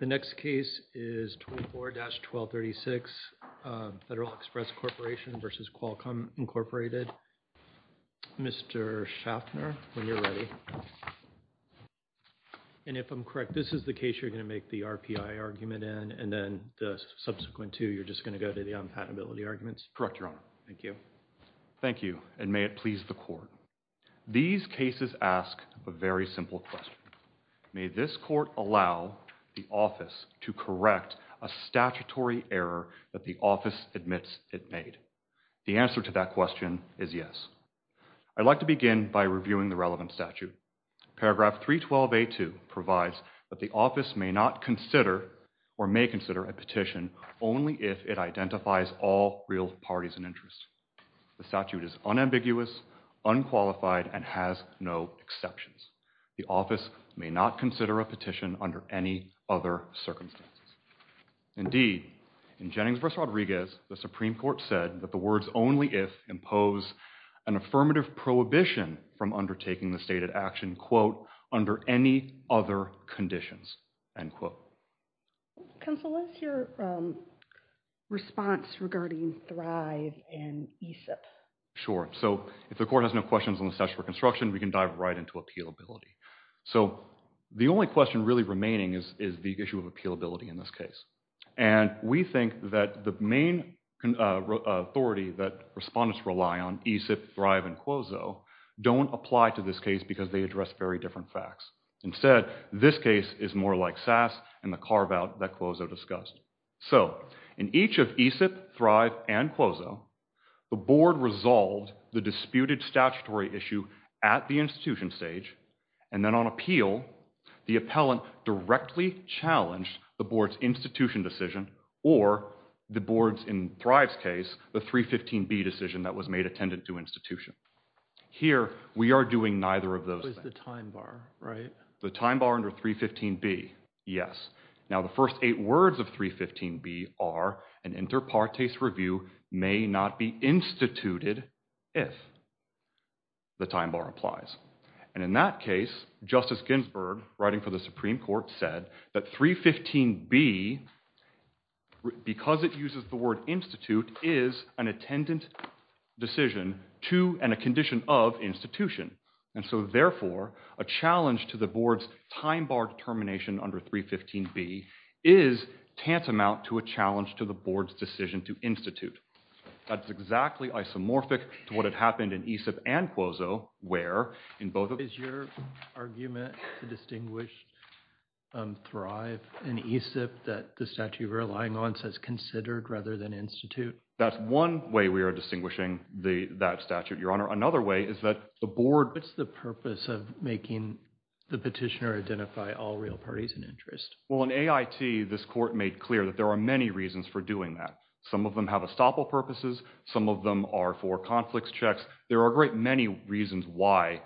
The next case is 24-1236 Federal Express Corporation v. Qualcomm Incorporated. Mr. Schaffner, when you're ready. And if I'm correct, this is the case you're going to make the RPI argument in and then the subsequent two you're just going to go to the unpatentability arguments? Correct, Your Honor. Thank you. Thank you, and may it please the Court. These cases ask a very simple question. May this Court allow the office to correct a statutory error that the office admits it made? The answer to that question is yes. I'd like to begin by reviewing the relevant statute. Paragraph 312A2 provides that the office may not consider or may consider a petition only if it identifies all real parties and interests. The statute is unambiguous, unqualified, and has no exceptions. The office may not consider a petition under any other circumstances. Indeed, in Jennings v. Rodriguez, the Supreme Court said that the words only if impose an affirmative prohibition from undertaking the stated action, quote, under any other conditions, end quote. Counsel, what's your response regarding Thrive and ESIP? Sure, so if the Court has no questions on the statute for construction, we can dive right into appealability. So the only question really remaining is the issue of appealability in this case, and we think that the main authority that respondents rely on, ESIP, Thrive, and Quozo, don't apply to this case because they address very different facts. Instead, this case is more like SAS and the carve-out that Quozo discussed. So, in each of ESIP, Thrive, and Quozo, the Board resolved the disputed statutory issue at the institution stage, and then on appeal, the appellant directly challenged the Board's institution decision or the Board's, in Thrive's case, the 315B decision that was made attendant to institution. Here, we are doing neither of those. With the time bar, right? The time bar under 315B, yes. Now, the first eight words of 315B are, an inter partes review may not be instituted if the time bar applies. And in that case, Justice Ginsburg, writing for the Supreme Court, said that 315B, because it uses the word institute, is an attendant decision to, and a condition of, institution. And so, therefore, a challenge to the Board's time bar determination under 315B is tantamount to a challenge to the Board's decision to institute. That's exactly isomorphic to what happened in ESIP and Quozo, where, in both of... Is your argument to distinguish Thrive and ESIP that the statute you're relying on says considered rather than institute? That's one way we are distinguishing that statute, Your Honor. Another way is that the Board... What's the purpose of making the petitioner identify all real parties in interest? Well, in AIT, this Court made clear that there are many reasons for doing that. Some of them have estoppel purposes. Some of them are for conflicts checks. There are a great many reasons why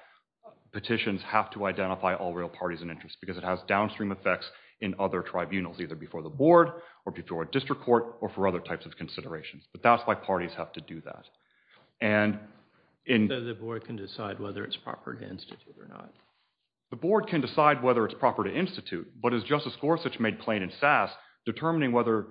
petitions have to identify all real parties in interest, because it has downstream effects in other tribunals, either before the Board, or before a district court, or for other types of considerations. But that's why parties have to do that. And... So the Board can decide whether it's proper to institute or not? The Board can decide whether it's proper to institute, but as Justice Gorsuch made plain in SASS, determining whether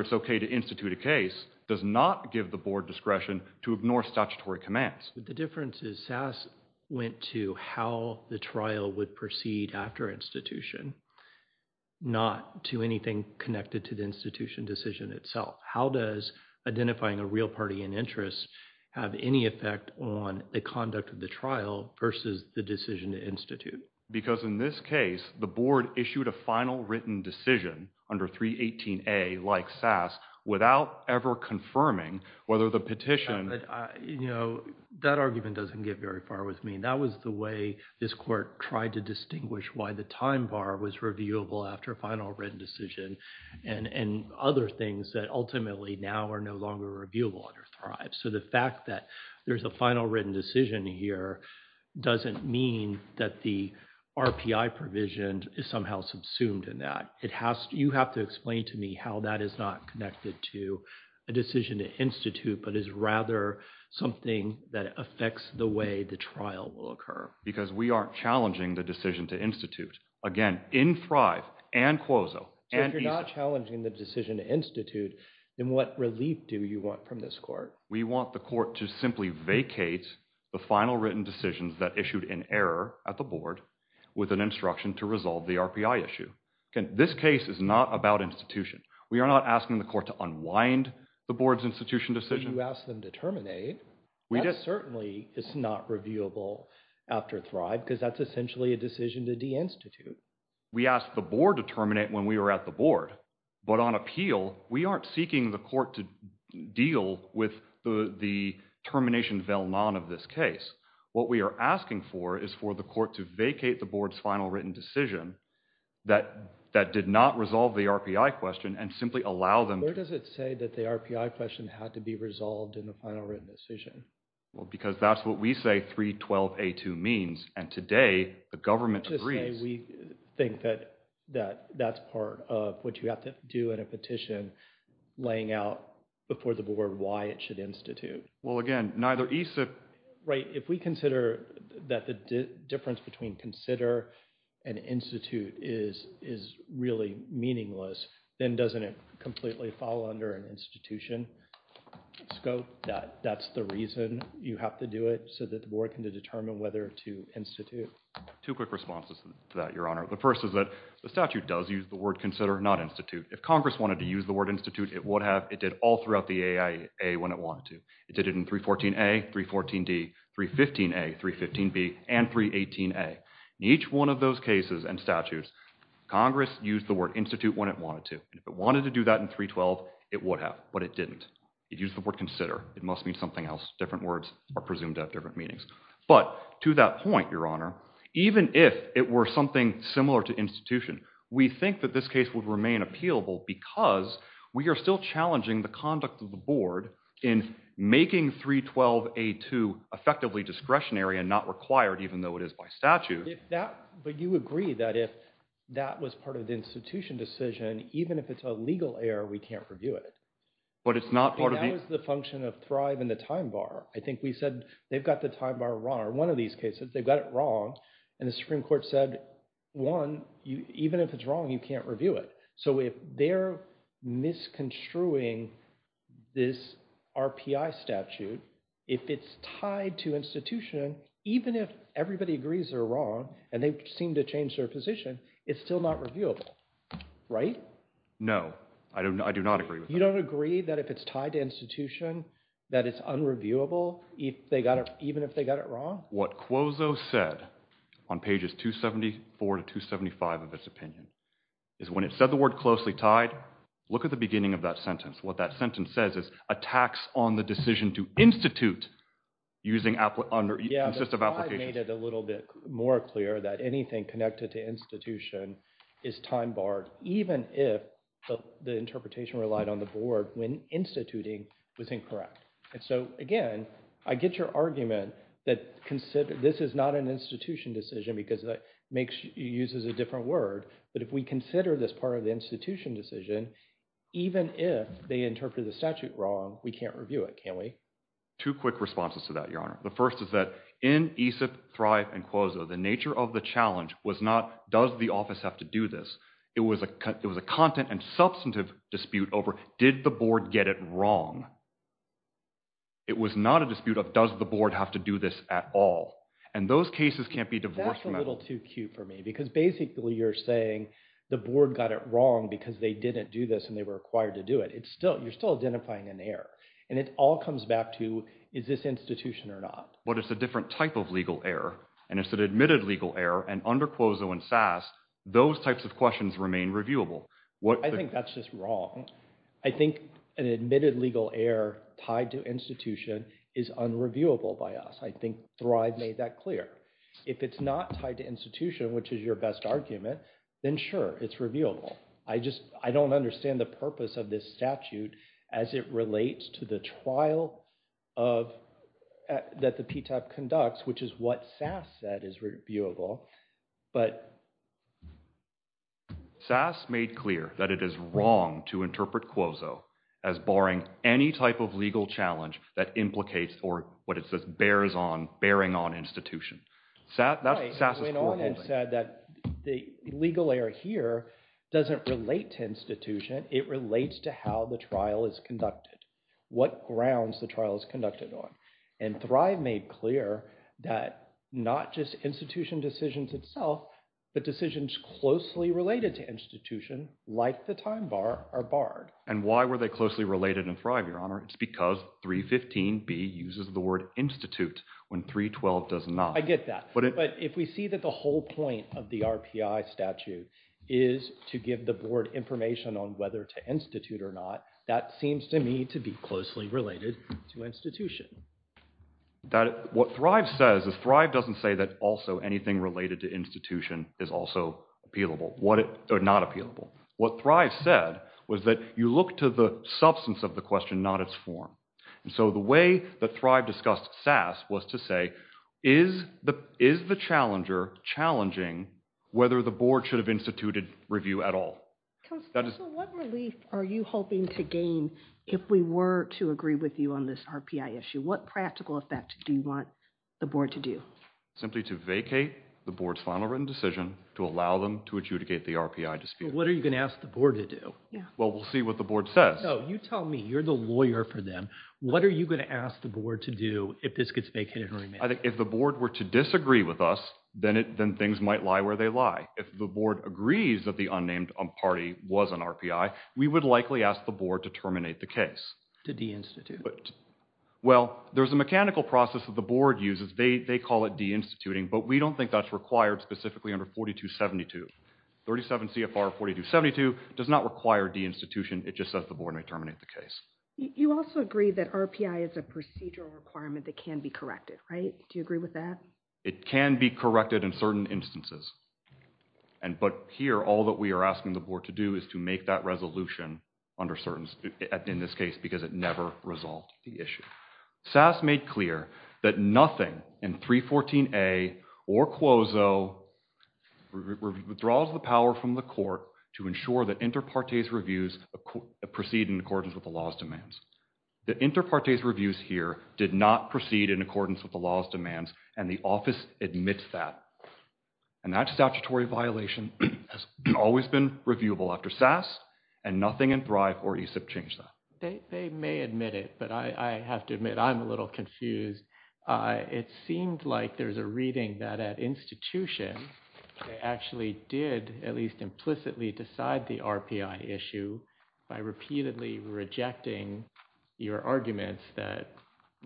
it's okay to institute a case does not give the Board discretion to ignore statutory commands. The difference is SASS went to how the trial would proceed after institution, not to anything connected to the institution decision itself. How does identifying a real party in interest have any effect on the conduct of the trial versus the decision to institute? Because in this case, the Board issued a final written decision under 318A, like SASS, without ever confirming whether the petition... You know, that argument doesn't get very far with me. That was the way this Court tried to distinguish why the time bar was reviewable after a final written decision, and other things that ultimately now are no longer reviewable under Thrive. So the fact that there's a final written decision here doesn't mean that the RPI provision is somehow subsumed in that. You have to explain to me how that is not connected to a decision to institute, but is rather something that affects the way the trial will occur. Because we aren't challenging the decision to institute. Again, in Thrive, and Quozo, and EISA... So if you're not challenging the decision to institute, then what relief do you want from this Court? We want the Court to simply vacate the final written decisions that issued in error at the Board with an instruction to resolve the RPI issue. This case is not about institution. We are not asking the Court to unwind the Board's institution decision. You asked them to terminate. That certainly is not reviewable after Thrive because that's essentially a decision to de-institute. We asked the Board to terminate when we were at the Board, but on appeal, we aren't seeking the Court to deal with the termination of this case. What we are asking for is for the Court to vacate the Board's final written decision that did not resolve the RPI question and simply allow them... Where does it say that the RPI question had to be resolved in the final written decision? Because that's what we say 312A2 means, and today, the government agrees... We think that that's part of what you have to do in a petition laying out before the Board why it should institute. Well, again, neither EISA... If we consider that the difference between consider and institute is really meaningless, then doesn't it completely fall under an institution scope? That's the reason you have to do it so that the Board can determine whether to institute. Two quick responses to that, Your Honor. The first is that the statute does use the word consider, not institute. If Congress wanted to use the word institute, it would have. It did all throughout the AIA when it wanted to. It did it in 314A, 314D, 315A, 315B, and 318A. In each one of those cases and statutes, Congress used the word institute when it wanted to. If it wanted to do that in 312, it would have, but it didn't. It used the word consider. It must mean something else. Different words are presumed to have different meanings. But to that point, Your Honor, even if it were something similar to institution, we think that this case would remain appealable because we are still challenging the conduct of the Board in making 312A2 effectively discretionary and not required, even though it is by statute. But you agree that if that was part of the institution decision, even if it's a legal error, we can't review it. But it's not part of the... That was the function of Thrive and the time bar. I think we said they've got the time bar wrong, or one of these cases, they've got it wrong. And the Supreme Court said, one, even if it's wrong, you can't review it. So if they're misconstruing this RPI statute, if it's tied to institution, even if everybody agrees they're wrong, and they seem to change their position, it's still not reviewable, right? No, I do not agree with that. You don't agree that if it's tied to institution, that it's unreviewable, even if they got it wrong? What Cuozzo said on pages 274 to 275 of his opinion, is when it said the word closely tied, look at the beginning of that sentence. What that sentence says is a tax on the decision to institute using... Yeah, Thrive made it a little bit more clear that anything connected to institution is time barred, even if the interpretation relied on the board when instituting was incorrect. And so, again, I get your argument that this is not an institution decision, because it uses a different word, but if we consider this part of the institution decision, even if they interpreted the statute wrong, we can't review it, can we? Two quick responses to that, Your Honor. The first is that in AESIP, Thrive, and Cuozzo, the nature of the challenge was not, does the office have to do this? It was a content and substantive dispute over, did the board get it wrong? It was not a dispute of, does the board have to do this at all? And those cases can't be divorced from that. That's a little too cute for me, because basically you're saying the board got it wrong because they didn't do this and they were required to do it. You're still identifying an error. And it all comes back to, is this institution or not? But it's a different type of legal error, and it's an admitted legal error, and under Cuozzo and Sass, those types of questions remain reviewable. I think that's just wrong. I think an admitted legal error tied to institution is unreviewable by us. I think Thrive made that clear. If it's not tied to institution, which is your best argument, then sure, it's reviewable. I just don't understand the purpose of this statute as it relates to the trial that the PTAP conducts, which is what Sass said is reviewable. But Sass made clear that it is wrong to interpret Cuozzo as barring any type of legal challenge that implicates or what it says bears on, bearing on institution. That's what Sass is foreholding. He went on and said that the legal error here doesn't relate to institution. It relates to how the trial is conducted, what grounds the trial is conducted on. And Thrive made clear that not just institution decisions itself, but decisions closely related to institution like the time bar are barred. And why were they closely related in Thrive, Your Honor? It's because 315B uses the word institute when 312 does not. I get that. But if we see that the whole point of the RPI statute is to give the board information on whether to institute or not, that seems to me to be closely related to institution. What Thrive says is Thrive doesn't say that also anything related to institution is also appealable or not appealable. What Thrive said was that you look to the substance of the question, not its form. And so the way that Thrive discussed Sass was to say, is the challenger challenging whether the board should have instituted review at all? Counsel, what relief are you hoping to gain if we were to agree with you on this RPI issue? What practical effect do you want the board to do? Simply to vacate the board's final written decision to allow them to adjudicate the RPI dispute. What are you going to ask the board to do? Well, we'll see what the board says. No, you tell me. You're the lawyer for them. What are you going to ask the board to do if this gets vacated and remanded? If the board were to disagree with us, then things might lie where they lie. If the board agrees that the unnamed party was an RPI, we would likely ask the board to terminate the case. To deinstitute. Well, there's a mechanical process that the board uses. They call it deinstituting, but we don't think that's required specifically under 4272. 37 CFR 4272 does not require deinstitution. It just says the board may terminate the case. You also agree that RPI is a procedural requirement that can be corrected, right? Do you agree with that? It can be corrected in certain instances. But here, all that we are asking the board to do is to make that resolution under certain, in this case, because it never resolved the issue. SAS made clear that nothing in 314A or Quozo withdraws the power from the court to ensure that inter partes reviews proceed in accordance with the law's demands. The inter partes reviews here did not proceed in accordance with the law's demands, and the office admits that. And that statutory violation has always been reviewable after SAS, and nothing in Thrive or ESIP changed that. They may admit it, but I have to admit I'm a little confused. It seemed like there's a reading that at institution, they actually did at least implicitly decide the RPI issue by repeatedly rejecting your arguments that,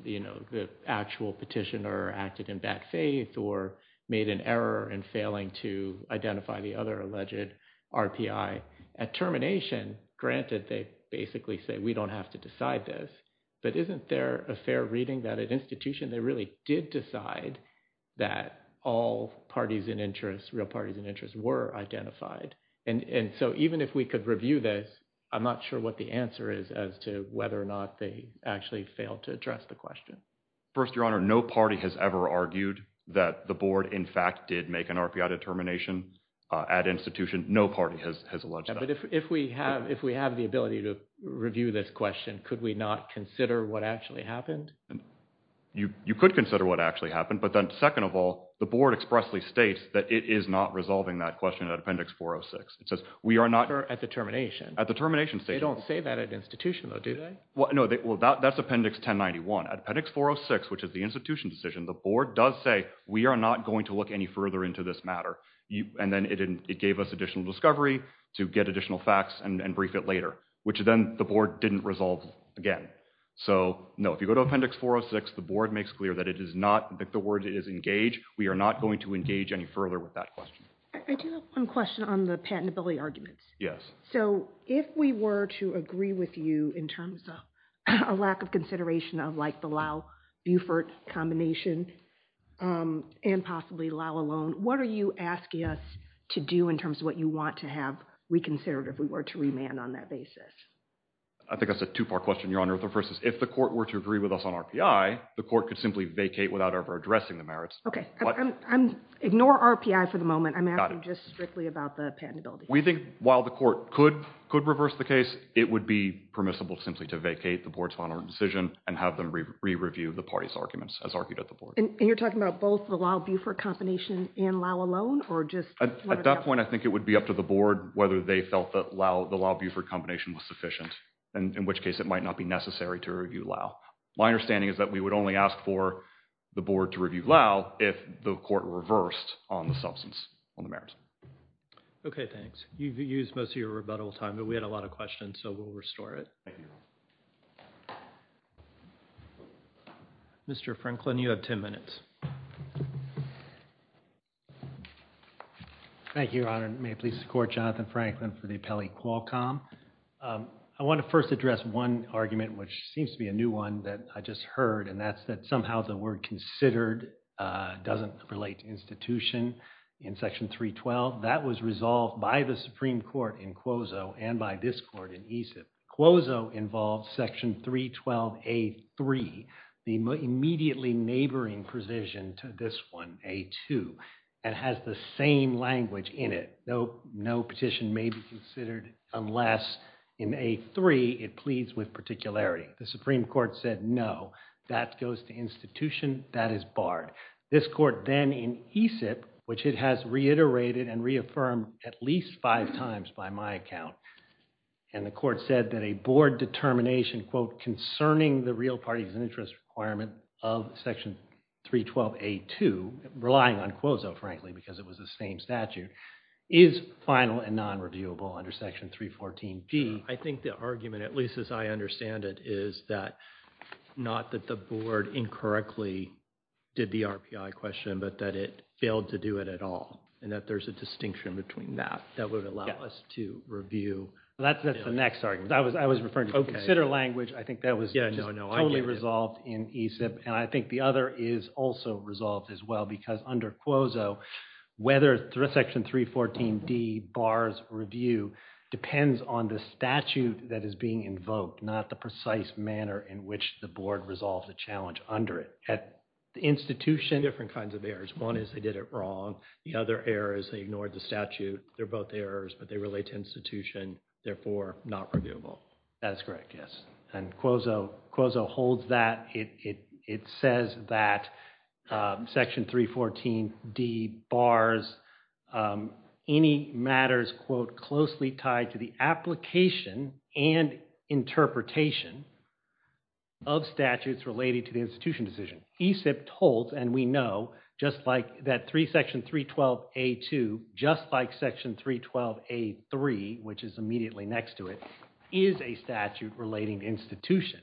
you know, the actual petitioner acted in bad faith or made an error in failing to identify the other alleged RPI. At termination, granted, they basically say we don't have to decide this, but isn't there a fair reading that at institution they really did decide that all parties in interest, real parties in interest, were identified? And so even if we could review this, I'm not sure what the answer is as to whether or not they actually failed to address the question. First, Your Honor, no party has ever argued that the board, in fact, did make an RPI determination at institution. No party has alleged that. But if we have the ability to review this question, could we not consider what actually happened? You could consider what actually happened, but then second of all, the board expressly states that it is not resolving that question at Appendix 406. It says we are not… At the termination. At the termination… They don't say that at institution though, do they? Well, no, that's Appendix 1091. At Appendix 406, which is the institution decision, the board does say we are not going to look any further into this matter. And then it gave us additional discovery to get additional facts and brief it later, which then the board didn't resolve again. So, no, if you go to Appendix 406, the board makes clear that it is not, that the board is engaged. We are not going to engage any further with that question. I do have one question on the patentability arguments. Yes. So, if we were to agree with you in terms of a lack of consideration of like the Lowe-Buford combination and possibly Lowe alone, what are you asking us to do in terms of what you want to have reconsidered if we were to remand on that basis? I think that's a two-part question, Your Honor. The first is if the court were to agree with us on RPI, the court could simply vacate without ever addressing the merits. Ignore RPI for the moment. I'm asking just strictly about the patentability. We think while the court could reverse the case, it would be permissible simply to vacate the board's final decision and have them re-review the party's arguments as argued at the board. And you're talking about both the Lowe-Buford combination and Lowe alone? At that point, I think it would be up to the board whether they felt that the Lowe-Buford combination was sufficient, in which case it might not be necessary to review Lowe. My understanding is that we would only ask for the board to review Lowe if the court reversed on the substance, on the merits. Okay, thanks. You've used most of your rebuttal time, but we had a lot of questions, so we'll restore it. Thank you. Mr. Franklin, you have ten minutes. Thank you, Your Honor. May it please the court, Jonathan Franklin for the appellee Qualcomm. I want to first address one argument, which seems to be a new one that I just heard, and that's that somehow the word considered doesn't relate to institution in Section 312. That was resolved by the Supreme Court in Quozo and by this court in Aesop. Quozo involves Section 312A3, the immediately neighboring provision to this one, A2, and has the same language in it. No petition may be considered unless in A3 it pleads with particularity. The Supreme Court said no. That goes to institution, that is barred. This court then in Aesop, which it has reiterated and reaffirmed at least five times by my account, and the court said that a board determination, quote, concerning the real parties and interest requirement of Section 312A2, relying on Quozo, frankly, because it was the same statute, is final and non-reviewable under Section 314G. I think the argument, at least as I understand it, is that not that the board incorrectly did the RPI question, but that it failed to do it at all and that there's a distinction between that. That would allow us to review. That's the next argument. I was referring to consider language. I think that was totally resolved in Aesop, and I think the other is also resolved as well because under Quozo, whether Section 314D bars review depends on the statute that is being invoked, not the precise manner in which the board resolves the challenge under it. At the institution. Different kinds of errors. One is they did it wrong. The other error is they ignored the statute. They're both errors, but they relate to institution, therefore not reviewable. That's correct, yes. And Quozo holds that. It says that Section 314D bars any matters, quote, closely tied to the application and interpretation of statutes related to the institution decision. Aesop holds, and we know, just like that Section 312A2, just like Section 312A3, which is immediately next to it, is a statute relating to institution.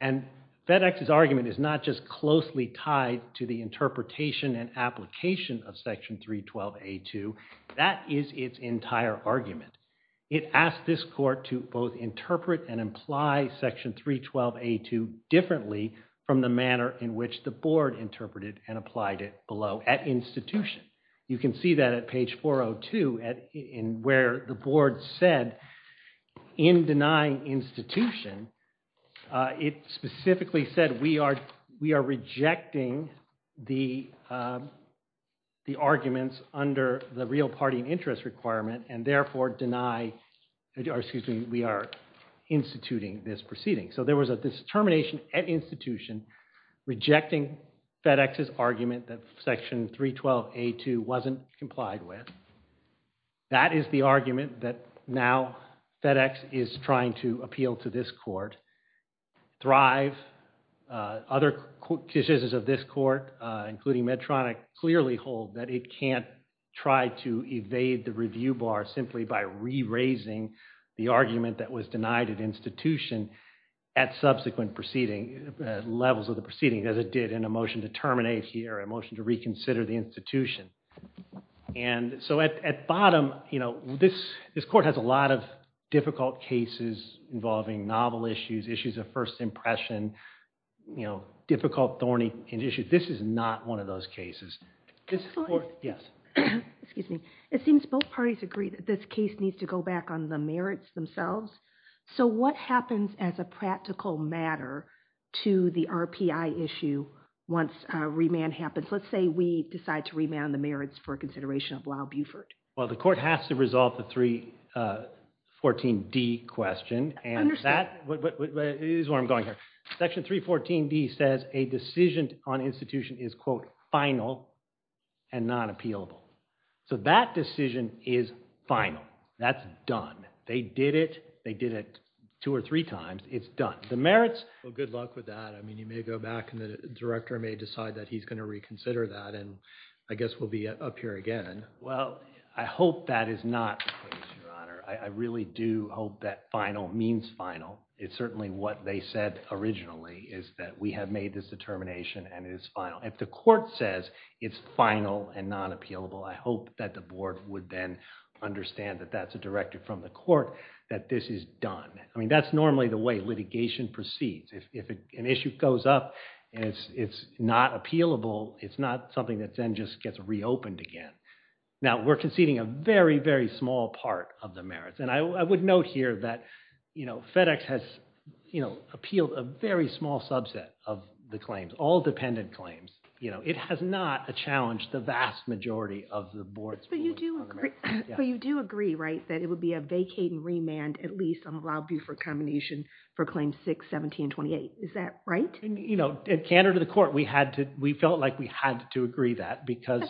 And FedEx's argument is not just closely tied to the interpretation and application of Section 312A2. That is its entire argument. It asked this court to both interpret and imply Section 312A2 differently from the manner in which the board interpreted and applied it below at institution. You can see that at page 402 where the board said, in denying institution, it specifically said we are rejecting the arguments under the real party interest requirement and therefore deny, or excuse me, we are instituting this proceeding. So there was a determination at institution rejecting FedEx's argument that Section 312A2 wasn't complied with. That is the argument that now FedEx is trying to appeal to this court. Thrive, other cases of this court, including Medtronic, clearly hold that it can't try to evade the review bar simply by re-raising the argument that was denied at institution. At subsequent proceeding, levels of the proceeding, as it did in a motion to terminate here, a motion to reconsider the institution. And so at bottom, you know, this court has a lot of difficult cases involving novel issues, issues of first impression, you know, difficult thorny issues. This is not one of those cases. This court, yes. Excuse me. It seems both parties agree that this case needs to go back on the merits themselves. So what happens as a practical matter to the RPI issue once remand happens? Let's say we decide to remand the merits for consideration of Lyle Buford. Well, the court has to resolve the 314D question. And that is where I'm going here. Section 314D says a decision on institution is, quote, final and not appealable. So that decision is final. That's done. They did it. They did it two or three times. It's done. The merits, well, good luck with that. I mean, you may go back and the director may decide that he's going to reconsider that. And I guess we'll be up here again. Well, I hope that is not the case, Your Honor. I really do hope that final means final. It's certainly what they said originally is that we have made this determination and it is final. If the court says it's final and not appealable, I hope that the board would then understand that that's a directive from the court that this is done. I mean, that's normally the way litigation proceeds. If an issue goes up and it's not appealable, it's not something that then just gets reopened again. Now, we're conceding a very, very small part of the merits. And I would note here that FedEx has appealed a very small subset of the claims, all dependent claims. It has not challenged the vast majority of the board's pool of merits. But you do agree, right, that it would be a vacating remand at least on a Rob Buford combination for Claims 6, 17, and 28. Is that right? You know, in candor to the court, we felt like we had to agree that because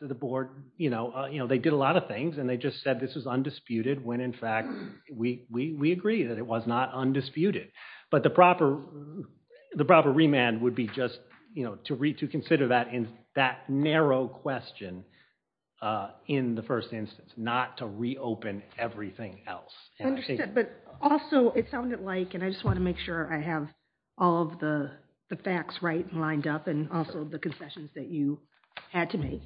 the board, you know, they did a lot of things and they just said this is undisputed when in fact we agree that it was not undisputed. But the proper remand would be just, you know, to consider that narrow question in the first instance, not to reopen everything else. I understand, but also it sounded like, and I just want to make sure I have all of the facts right and lined up, and also the concessions that you had to make.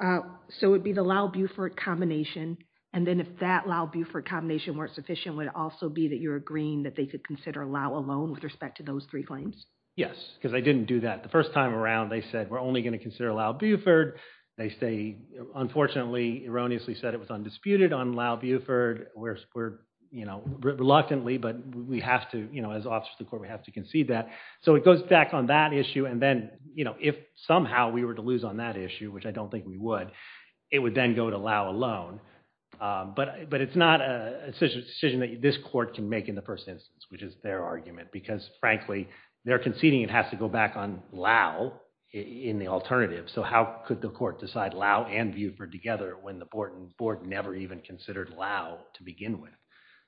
So it would be the Lau Buford combination, and then if that Lau Buford combination weren't sufficient, would it also be that you're agreeing that they could consider Lau alone with respect to those three claims? Yes, because they didn't do that the first time around. They said we're only going to consider Lau Buford. They say, unfortunately, erroneously said it was undisputed on Lau Buford. We're, you know, reluctantly, but we have to, you know, as officers of the court, we have to concede that. So it goes back on that issue, and then, you know, if somehow we were to lose on that issue, which I don't think we would, it would then go to Lau alone. But it's not a decision that this court can make in the first instance, which is their argument, because, frankly, they're conceding it has to go back on Lau in the alternative. So how could the court decide Lau and Buford together when the board never even considered Lau to begin with?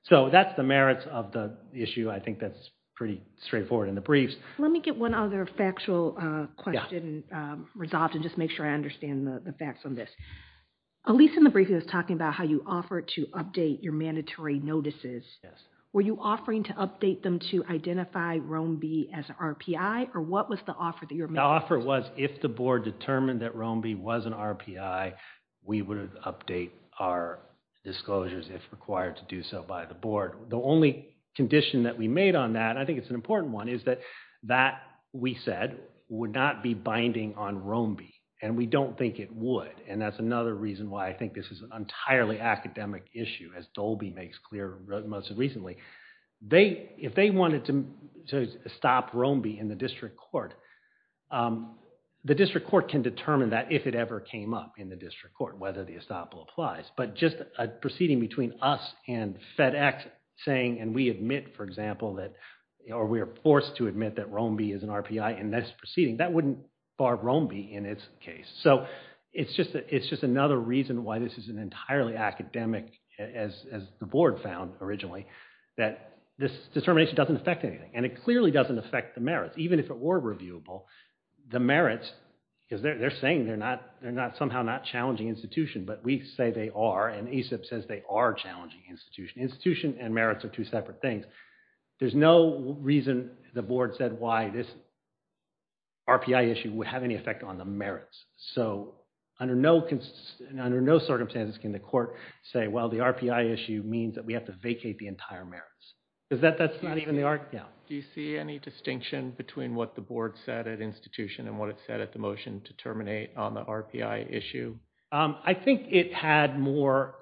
So that's the merits of the issue. I think that's pretty straightforward in the briefs. Let me get one other factual question resolved and just make sure I understand the facts on this. Elyse, in the brief, he was talking about how you offered to update your mandatory notices. Yes. Were you offering to update them to identify Roam B as an RPI, or what was the offer that you were making? The offer was if the board determined that Roam B was an RPI, we would update our disclosures if required to do so by the board. The only condition that we made on that, and I think it's an important one, is that that, we said, would not be binding on Roam B, and we don't think it would. And that's another reason why I think this is an entirely academic issue, as Dolby makes clear most recently. If they wanted to stop Roam B in the district court, the district court can determine that, if it ever came up in the district court, whether the estoppel applies. But just a proceeding between us and FedEx saying, and we admit, for example, or we are forced to admit that Roam B is an RPI in this proceeding, that wouldn't bar Roam B in its case. So it's just another reason why this is an entirely academic, as the board found originally, that this determination doesn't affect anything, and it clearly doesn't affect the merits. Even if it were reviewable, the merits, because they're saying they're somehow not challenging institution, but we say they are, and ACIP says they are challenging institution. Institution and merits are two separate things. There's no reason the board said why this RPI issue would have any effect on the merits. So under no circumstances can the court say, well, the RPI issue means that we have to vacate the entire merits. Does that – that's not even the – yeah. Do you see any distinction between what the board said at institution and what it said at the motion to terminate on the RPI issue? I think it had more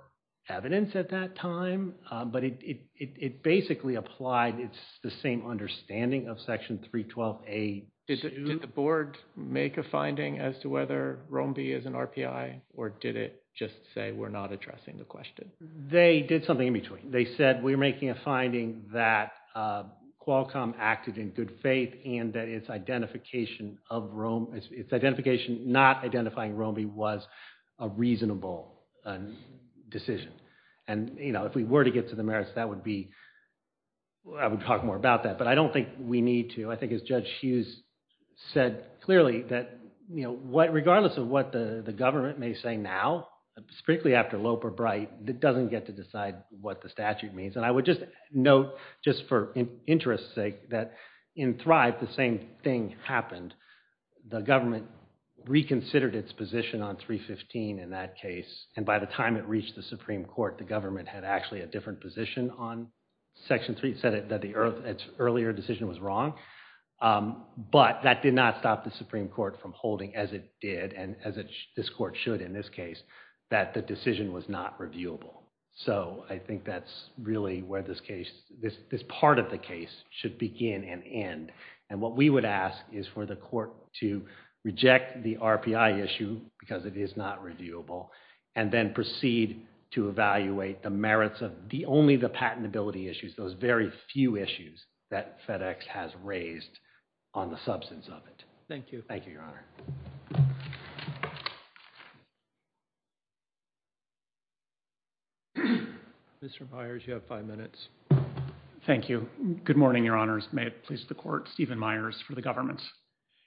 evidence at that time, but it basically applied. It's the same understanding of Section 312A2. Did the board make a finding as to whether Roam B is an RPI, or did it just say we're not addressing the question? They did something in between. They said we're making a finding that Qualcomm acted in good faith and that its identification of Roam – its identification not identifying Roam B was a reasonable decision. And, you know, if we were to get to the merits, that would be – I would talk more about that, but I don't think we need to. I think as Judge Hughes said clearly that, you know, regardless of what the government may say now, strictly after Loeb or Bright, it doesn't get to decide what the statute means. And I would just note, just for interest's sake, that in Thrive, the same thing happened. The government reconsidered its position on 315 in that case, and by the time it reached the Supreme Court, the government had actually a different position on Section 3. It said that the earlier decision was wrong, but that did not stop the Supreme Court from holding, as it did and as this court should in this case, that the decision was not reviewable. So, I think that's really where this case – this part of the case should begin and end. And what we would ask is for the court to reject the RPI issue because it is not reviewable and then proceed to evaluate the merits of only the patentability issues, those very few issues that FedEx has raised on the substance of it. Thank you. Mr. Myers, you have five minutes. Thank you. Good morning, Your Honors. May it please the court, Stephen Myers for the government.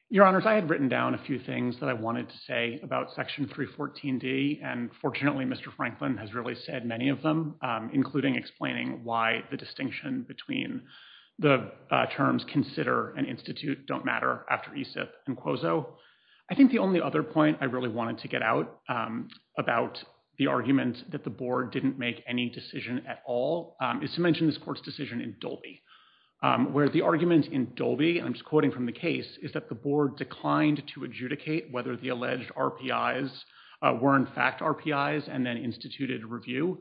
Your Honors, I had written down a few things that I wanted to say about Section 314D, and fortunately, Mr. Franklin has really said many of them, including explaining why the distinction between the terms consider and institute don't matter after ESIF and QUOZO. I think the only other point I really wanted to get out about the argument that the board didn't make any decision at all is to mention this court's decision in Dolby, where the argument in Dolby, and I'm just quoting from the case, is that the board declined to adjudicate whether the alleged RPIs were in fact RPIs and then instituted a review.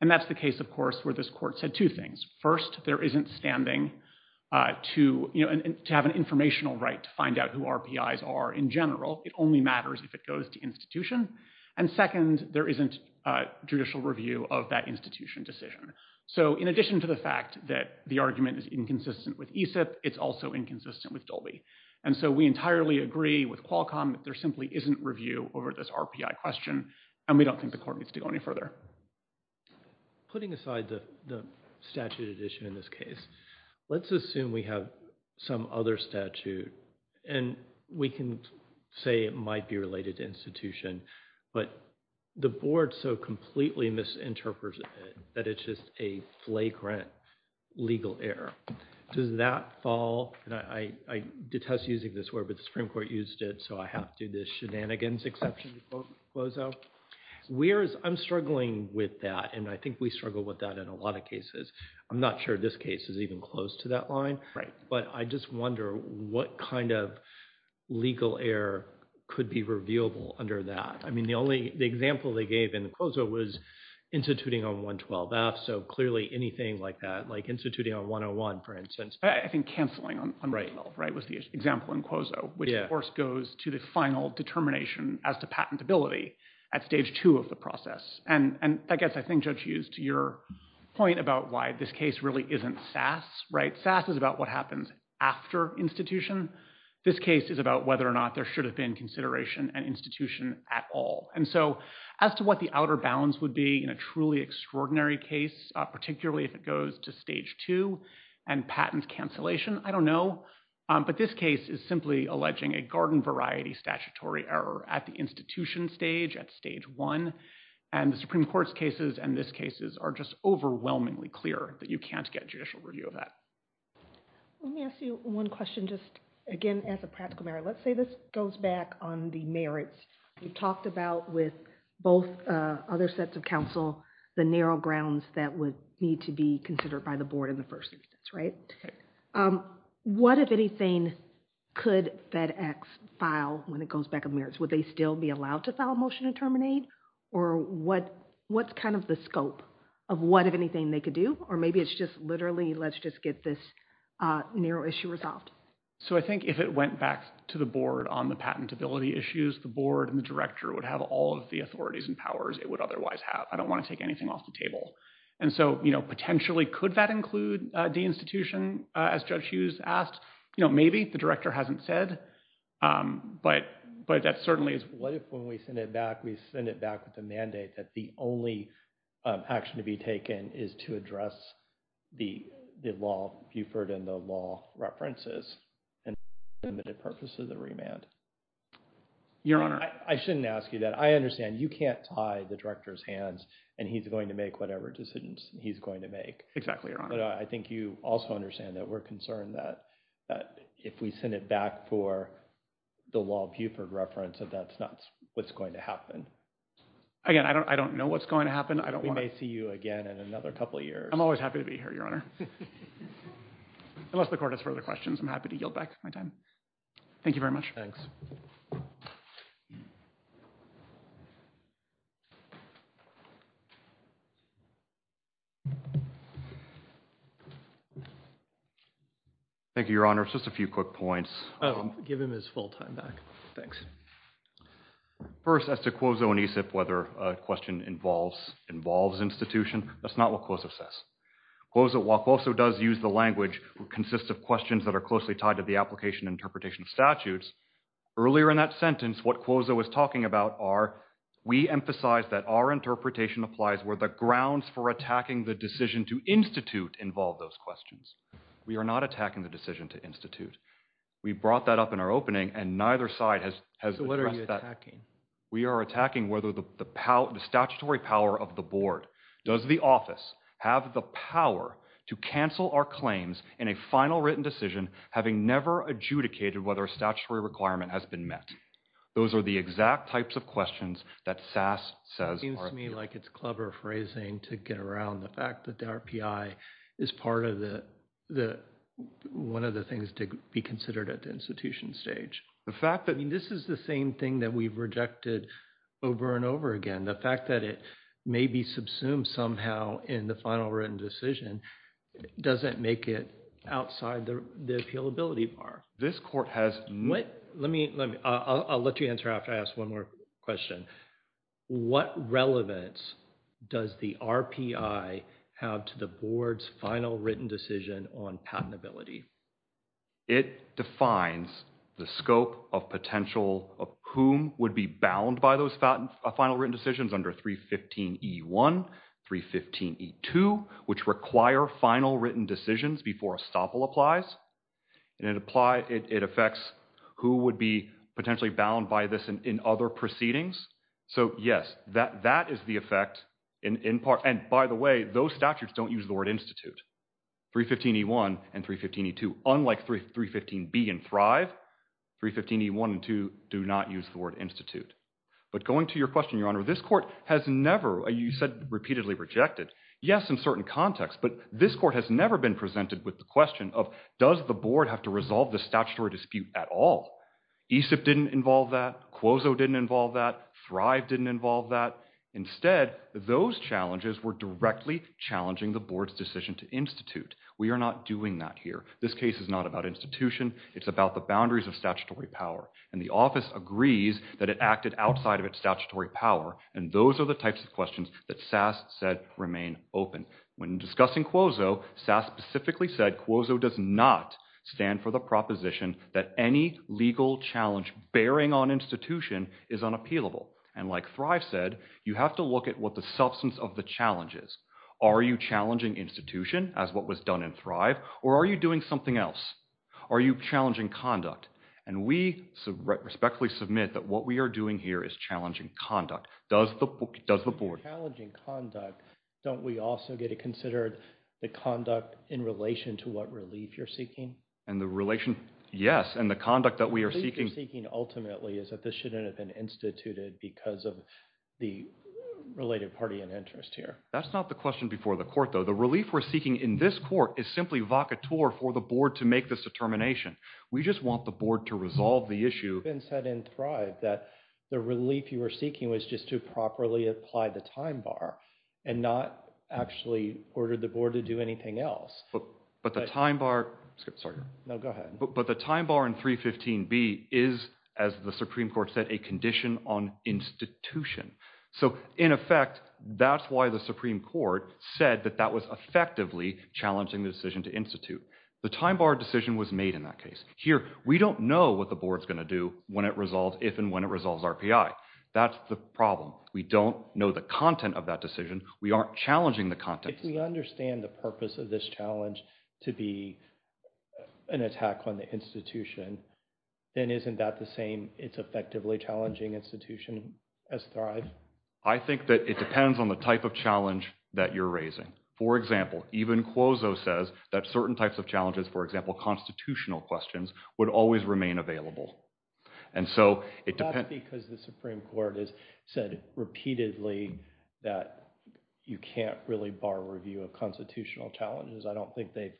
And that's the case, of course, where this court said two things. First, there isn't standing to have an informational right to find out who RPIs are in general. It only matters if it goes to institution. And second, there isn't judicial review of that institution decision. So in addition to the fact that the argument is inconsistent with ESIF, it's also inconsistent with Dolby. And so we entirely agree with Qualcomm that there simply isn't review over this RPI question, and we don't think the court needs to go any further. Putting aside the statute at issue in this case, let's assume we have some other statute, and we can say it might be related to institution, but the board so completely misinterprets it that it's just a flagrant legal error. Does that fall, and I detest using this word, but the Supreme Court used it, so I have to do this shenanigans exception to CLOZO. I'm struggling with that, and I think we struggle with that in a lot of cases. I'm not sure this case is even close to that line, but I just wonder what kind of legal error could be reviewable under that. I mean the example they gave in the CLOZO was instituting on 112-F, so clearly anything like that, like instituting on 101, for instance. I think canceling on 112 was the example in CLOZO, which of course goes to the final determination as to patentability at stage two of the process, and I guess I think Judge Hughes to your point about why this case really isn't SAS. SAS is about what happens after institution. This case is about whether or not there should have been consideration and institution at all, and so as to what the outer bounds would be in a truly extraordinary case, particularly if it goes to stage two and patent cancellation, I don't know, but this case is simply alleging a garden variety statutory error at the institution stage, at stage one, and the Supreme Court's cases and this case's are just overwhelmingly clear that you can't get judicial review of that. Let me ask you one question just again as a practical matter. Let's say this goes back on the merits. We've talked about with both other sets of counsel the narrow grounds that would need to be considered by the board in the first instance, right? What, if anything, could FedEx file when it goes back on merits? Would they still be allowed to file a motion to terminate, or what's kind of the scope of what, if anything, they could do, or maybe it's just literally let's just get this narrow issue resolved? So I think if it went back to the board on the patentability issues, the board and the director would have all of the authorities and powers it would otherwise have. I don't want to take anything off the table, and so potentially could that include deinstitution, as Judge Hughes asked? You know, maybe. The director hasn't said, but that certainly is. What if when we send it back, we send it back with a mandate that the only action to be taken is to address the law, Buford and the law references and the purpose of the remand? Your Honor. I shouldn't ask you that. I understand you can't tie the director's hands, and he's going to make whatever decisions he's going to make. Exactly, Your Honor. But I think you also understand that we're concerned that if we send it back for the law Buford reference, that that's not what's going to happen. Again, I don't know what's going to happen. We may see you again in another couple of years. I'm always happy to be here, Your Honor. Unless the court has further questions, I'm happy to yield back my time. Thank you very much. Thanks. Thank you. Thank you, Your Honor. Just a few quick points. Give him his full time back. Thanks. First, as to Quozo and Aesip, whether a question involves institution, that's not what Quozo says. While Quozo does use the language that consists of questions that are closely tied to the application and interpretation of statutes, earlier in that sentence, what Quozo was talking about are, we emphasize that our interpretation applies where the grounds for attacking the decision to institute involve those questions. We are not attacking the decision to institute. We brought that up in our opening, and neither side has addressed that. We are attacking whether the statutory power of the board, does the office have the power to cancel our claims in a final written decision, having never adjudicated whether a statutory requirement has been met. Those are the exact types of questions that SAS says. Seems to me like it's clever phrasing to get around the fact that the RPI is part of the, one of the things to be considered at the institution stage. The fact that. I mean, this is the same thing that we've rejected over and over again. The fact that it may be subsumed somehow in the final written decision, doesn't make it outside the appealability bar. This court has. Let me, I'll let you answer after I ask one more question. What relevance does the RPI have to the board's final written decision on patentability? It defines the scope of potential, of whom would be bound by those final written decisions under 315E1, 315E2, which require final written decisions before estoppel applies. And it affects who would be potentially bound by this in other proceedings. So, yes, that is the effect in part. And by the way, those statutes don't use the word institute. 315E1 and 315E2, unlike 315B and Thrive, 315E1 and 315E2 do not use the word institute. But going to your question, Your Honor, this court has never, you said repeatedly rejected, yes, in certain contexts, but this court has never been presented with the question of, does the board have to resolve the statutory dispute at all? ESIP didn't involve that. Quozo didn't involve that. Thrive didn't involve that. Instead, those challenges were directly challenging the board's decision to institute. We are not doing that here. This case is not about institution. It's about the boundaries of statutory power. And the office agrees that it acted outside of its statutory power. And those are the types of questions that SAS said remain open. When discussing Quozo, SAS specifically said Quozo does not stand for the proposition that any legal challenge bearing on institution is unappealable. And like Thrive said, you have to look at what the substance of the challenge is. Are you challenging institution as what was done in Thrive, or are you doing something else? Are you challenging conduct? And we respectfully submit that what we are doing here is challenging conduct. Does the board. If you're challenging conduct, don't we also get to consider the conduct in relation to what relief you're seeking? And the relation, yes, and the conduct that we are seeking. Ultimately is that this shouldn't have been instituted because of the related party in interest here. That's not the question before the court, though. The relief we're seeking in this court is simply vaca tour for the board to make this determination. We just want the board to resolve the issue. It's been said in Thrive that the relief you were seeking was just to properly apply the time bar and not actually order the board to do anything else. But the time bar. Sorry. No, go ahead. But the time bar in 315B is, as the Supreme Court said, a condition on institution. So, in effect, that's why the Supreme Court said that that was effectively challenging the decision to institute. The time bar decision was made in that case. Here, we don't know what the board's going to do when it resolves if and when it resolves RPI. That's the problem. We don't know the content of that decision. We aren't challenging the content. If we understand the purpose of this challenge to be an attack on the institution, then isn't that the same it's effectively challenging institution as Thrive? I think that it depends on the type of challenge that you're raising. For example, even Quozo says that certain types of challenges, for example, constitutional questions, would always remain available. That's because the Supreme Court has said repeatedly that you can't really bar review of constitutional challenges. I don't think they've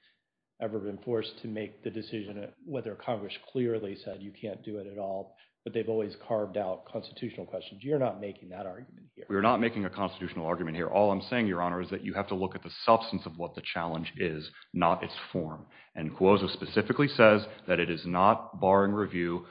ever been forced to make the decision whether Congress clearly said you can't do it at all, but they've always carved out constitutional questions. You're not making that argument here. We're not making a constitutional argument here. All I'm saying, Your Honor, is that you have to look at the substance of what the challenge is, not its form. And Quozo specifically says that it is not barring review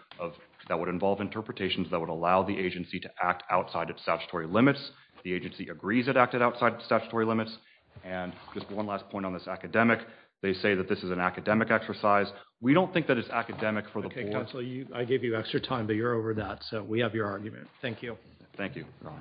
that would involve interpretations that would allow the agency to act outside of statutory limits. The agency agrees it acted outside of statutory limits. And just one last point on this academic. They say that this is an academic exercise. We don't think that it's academic for the board. Okay, counsel, I gave you extra time, but you're over that, so we have your argument. Thank you. Thank you, Your Honor.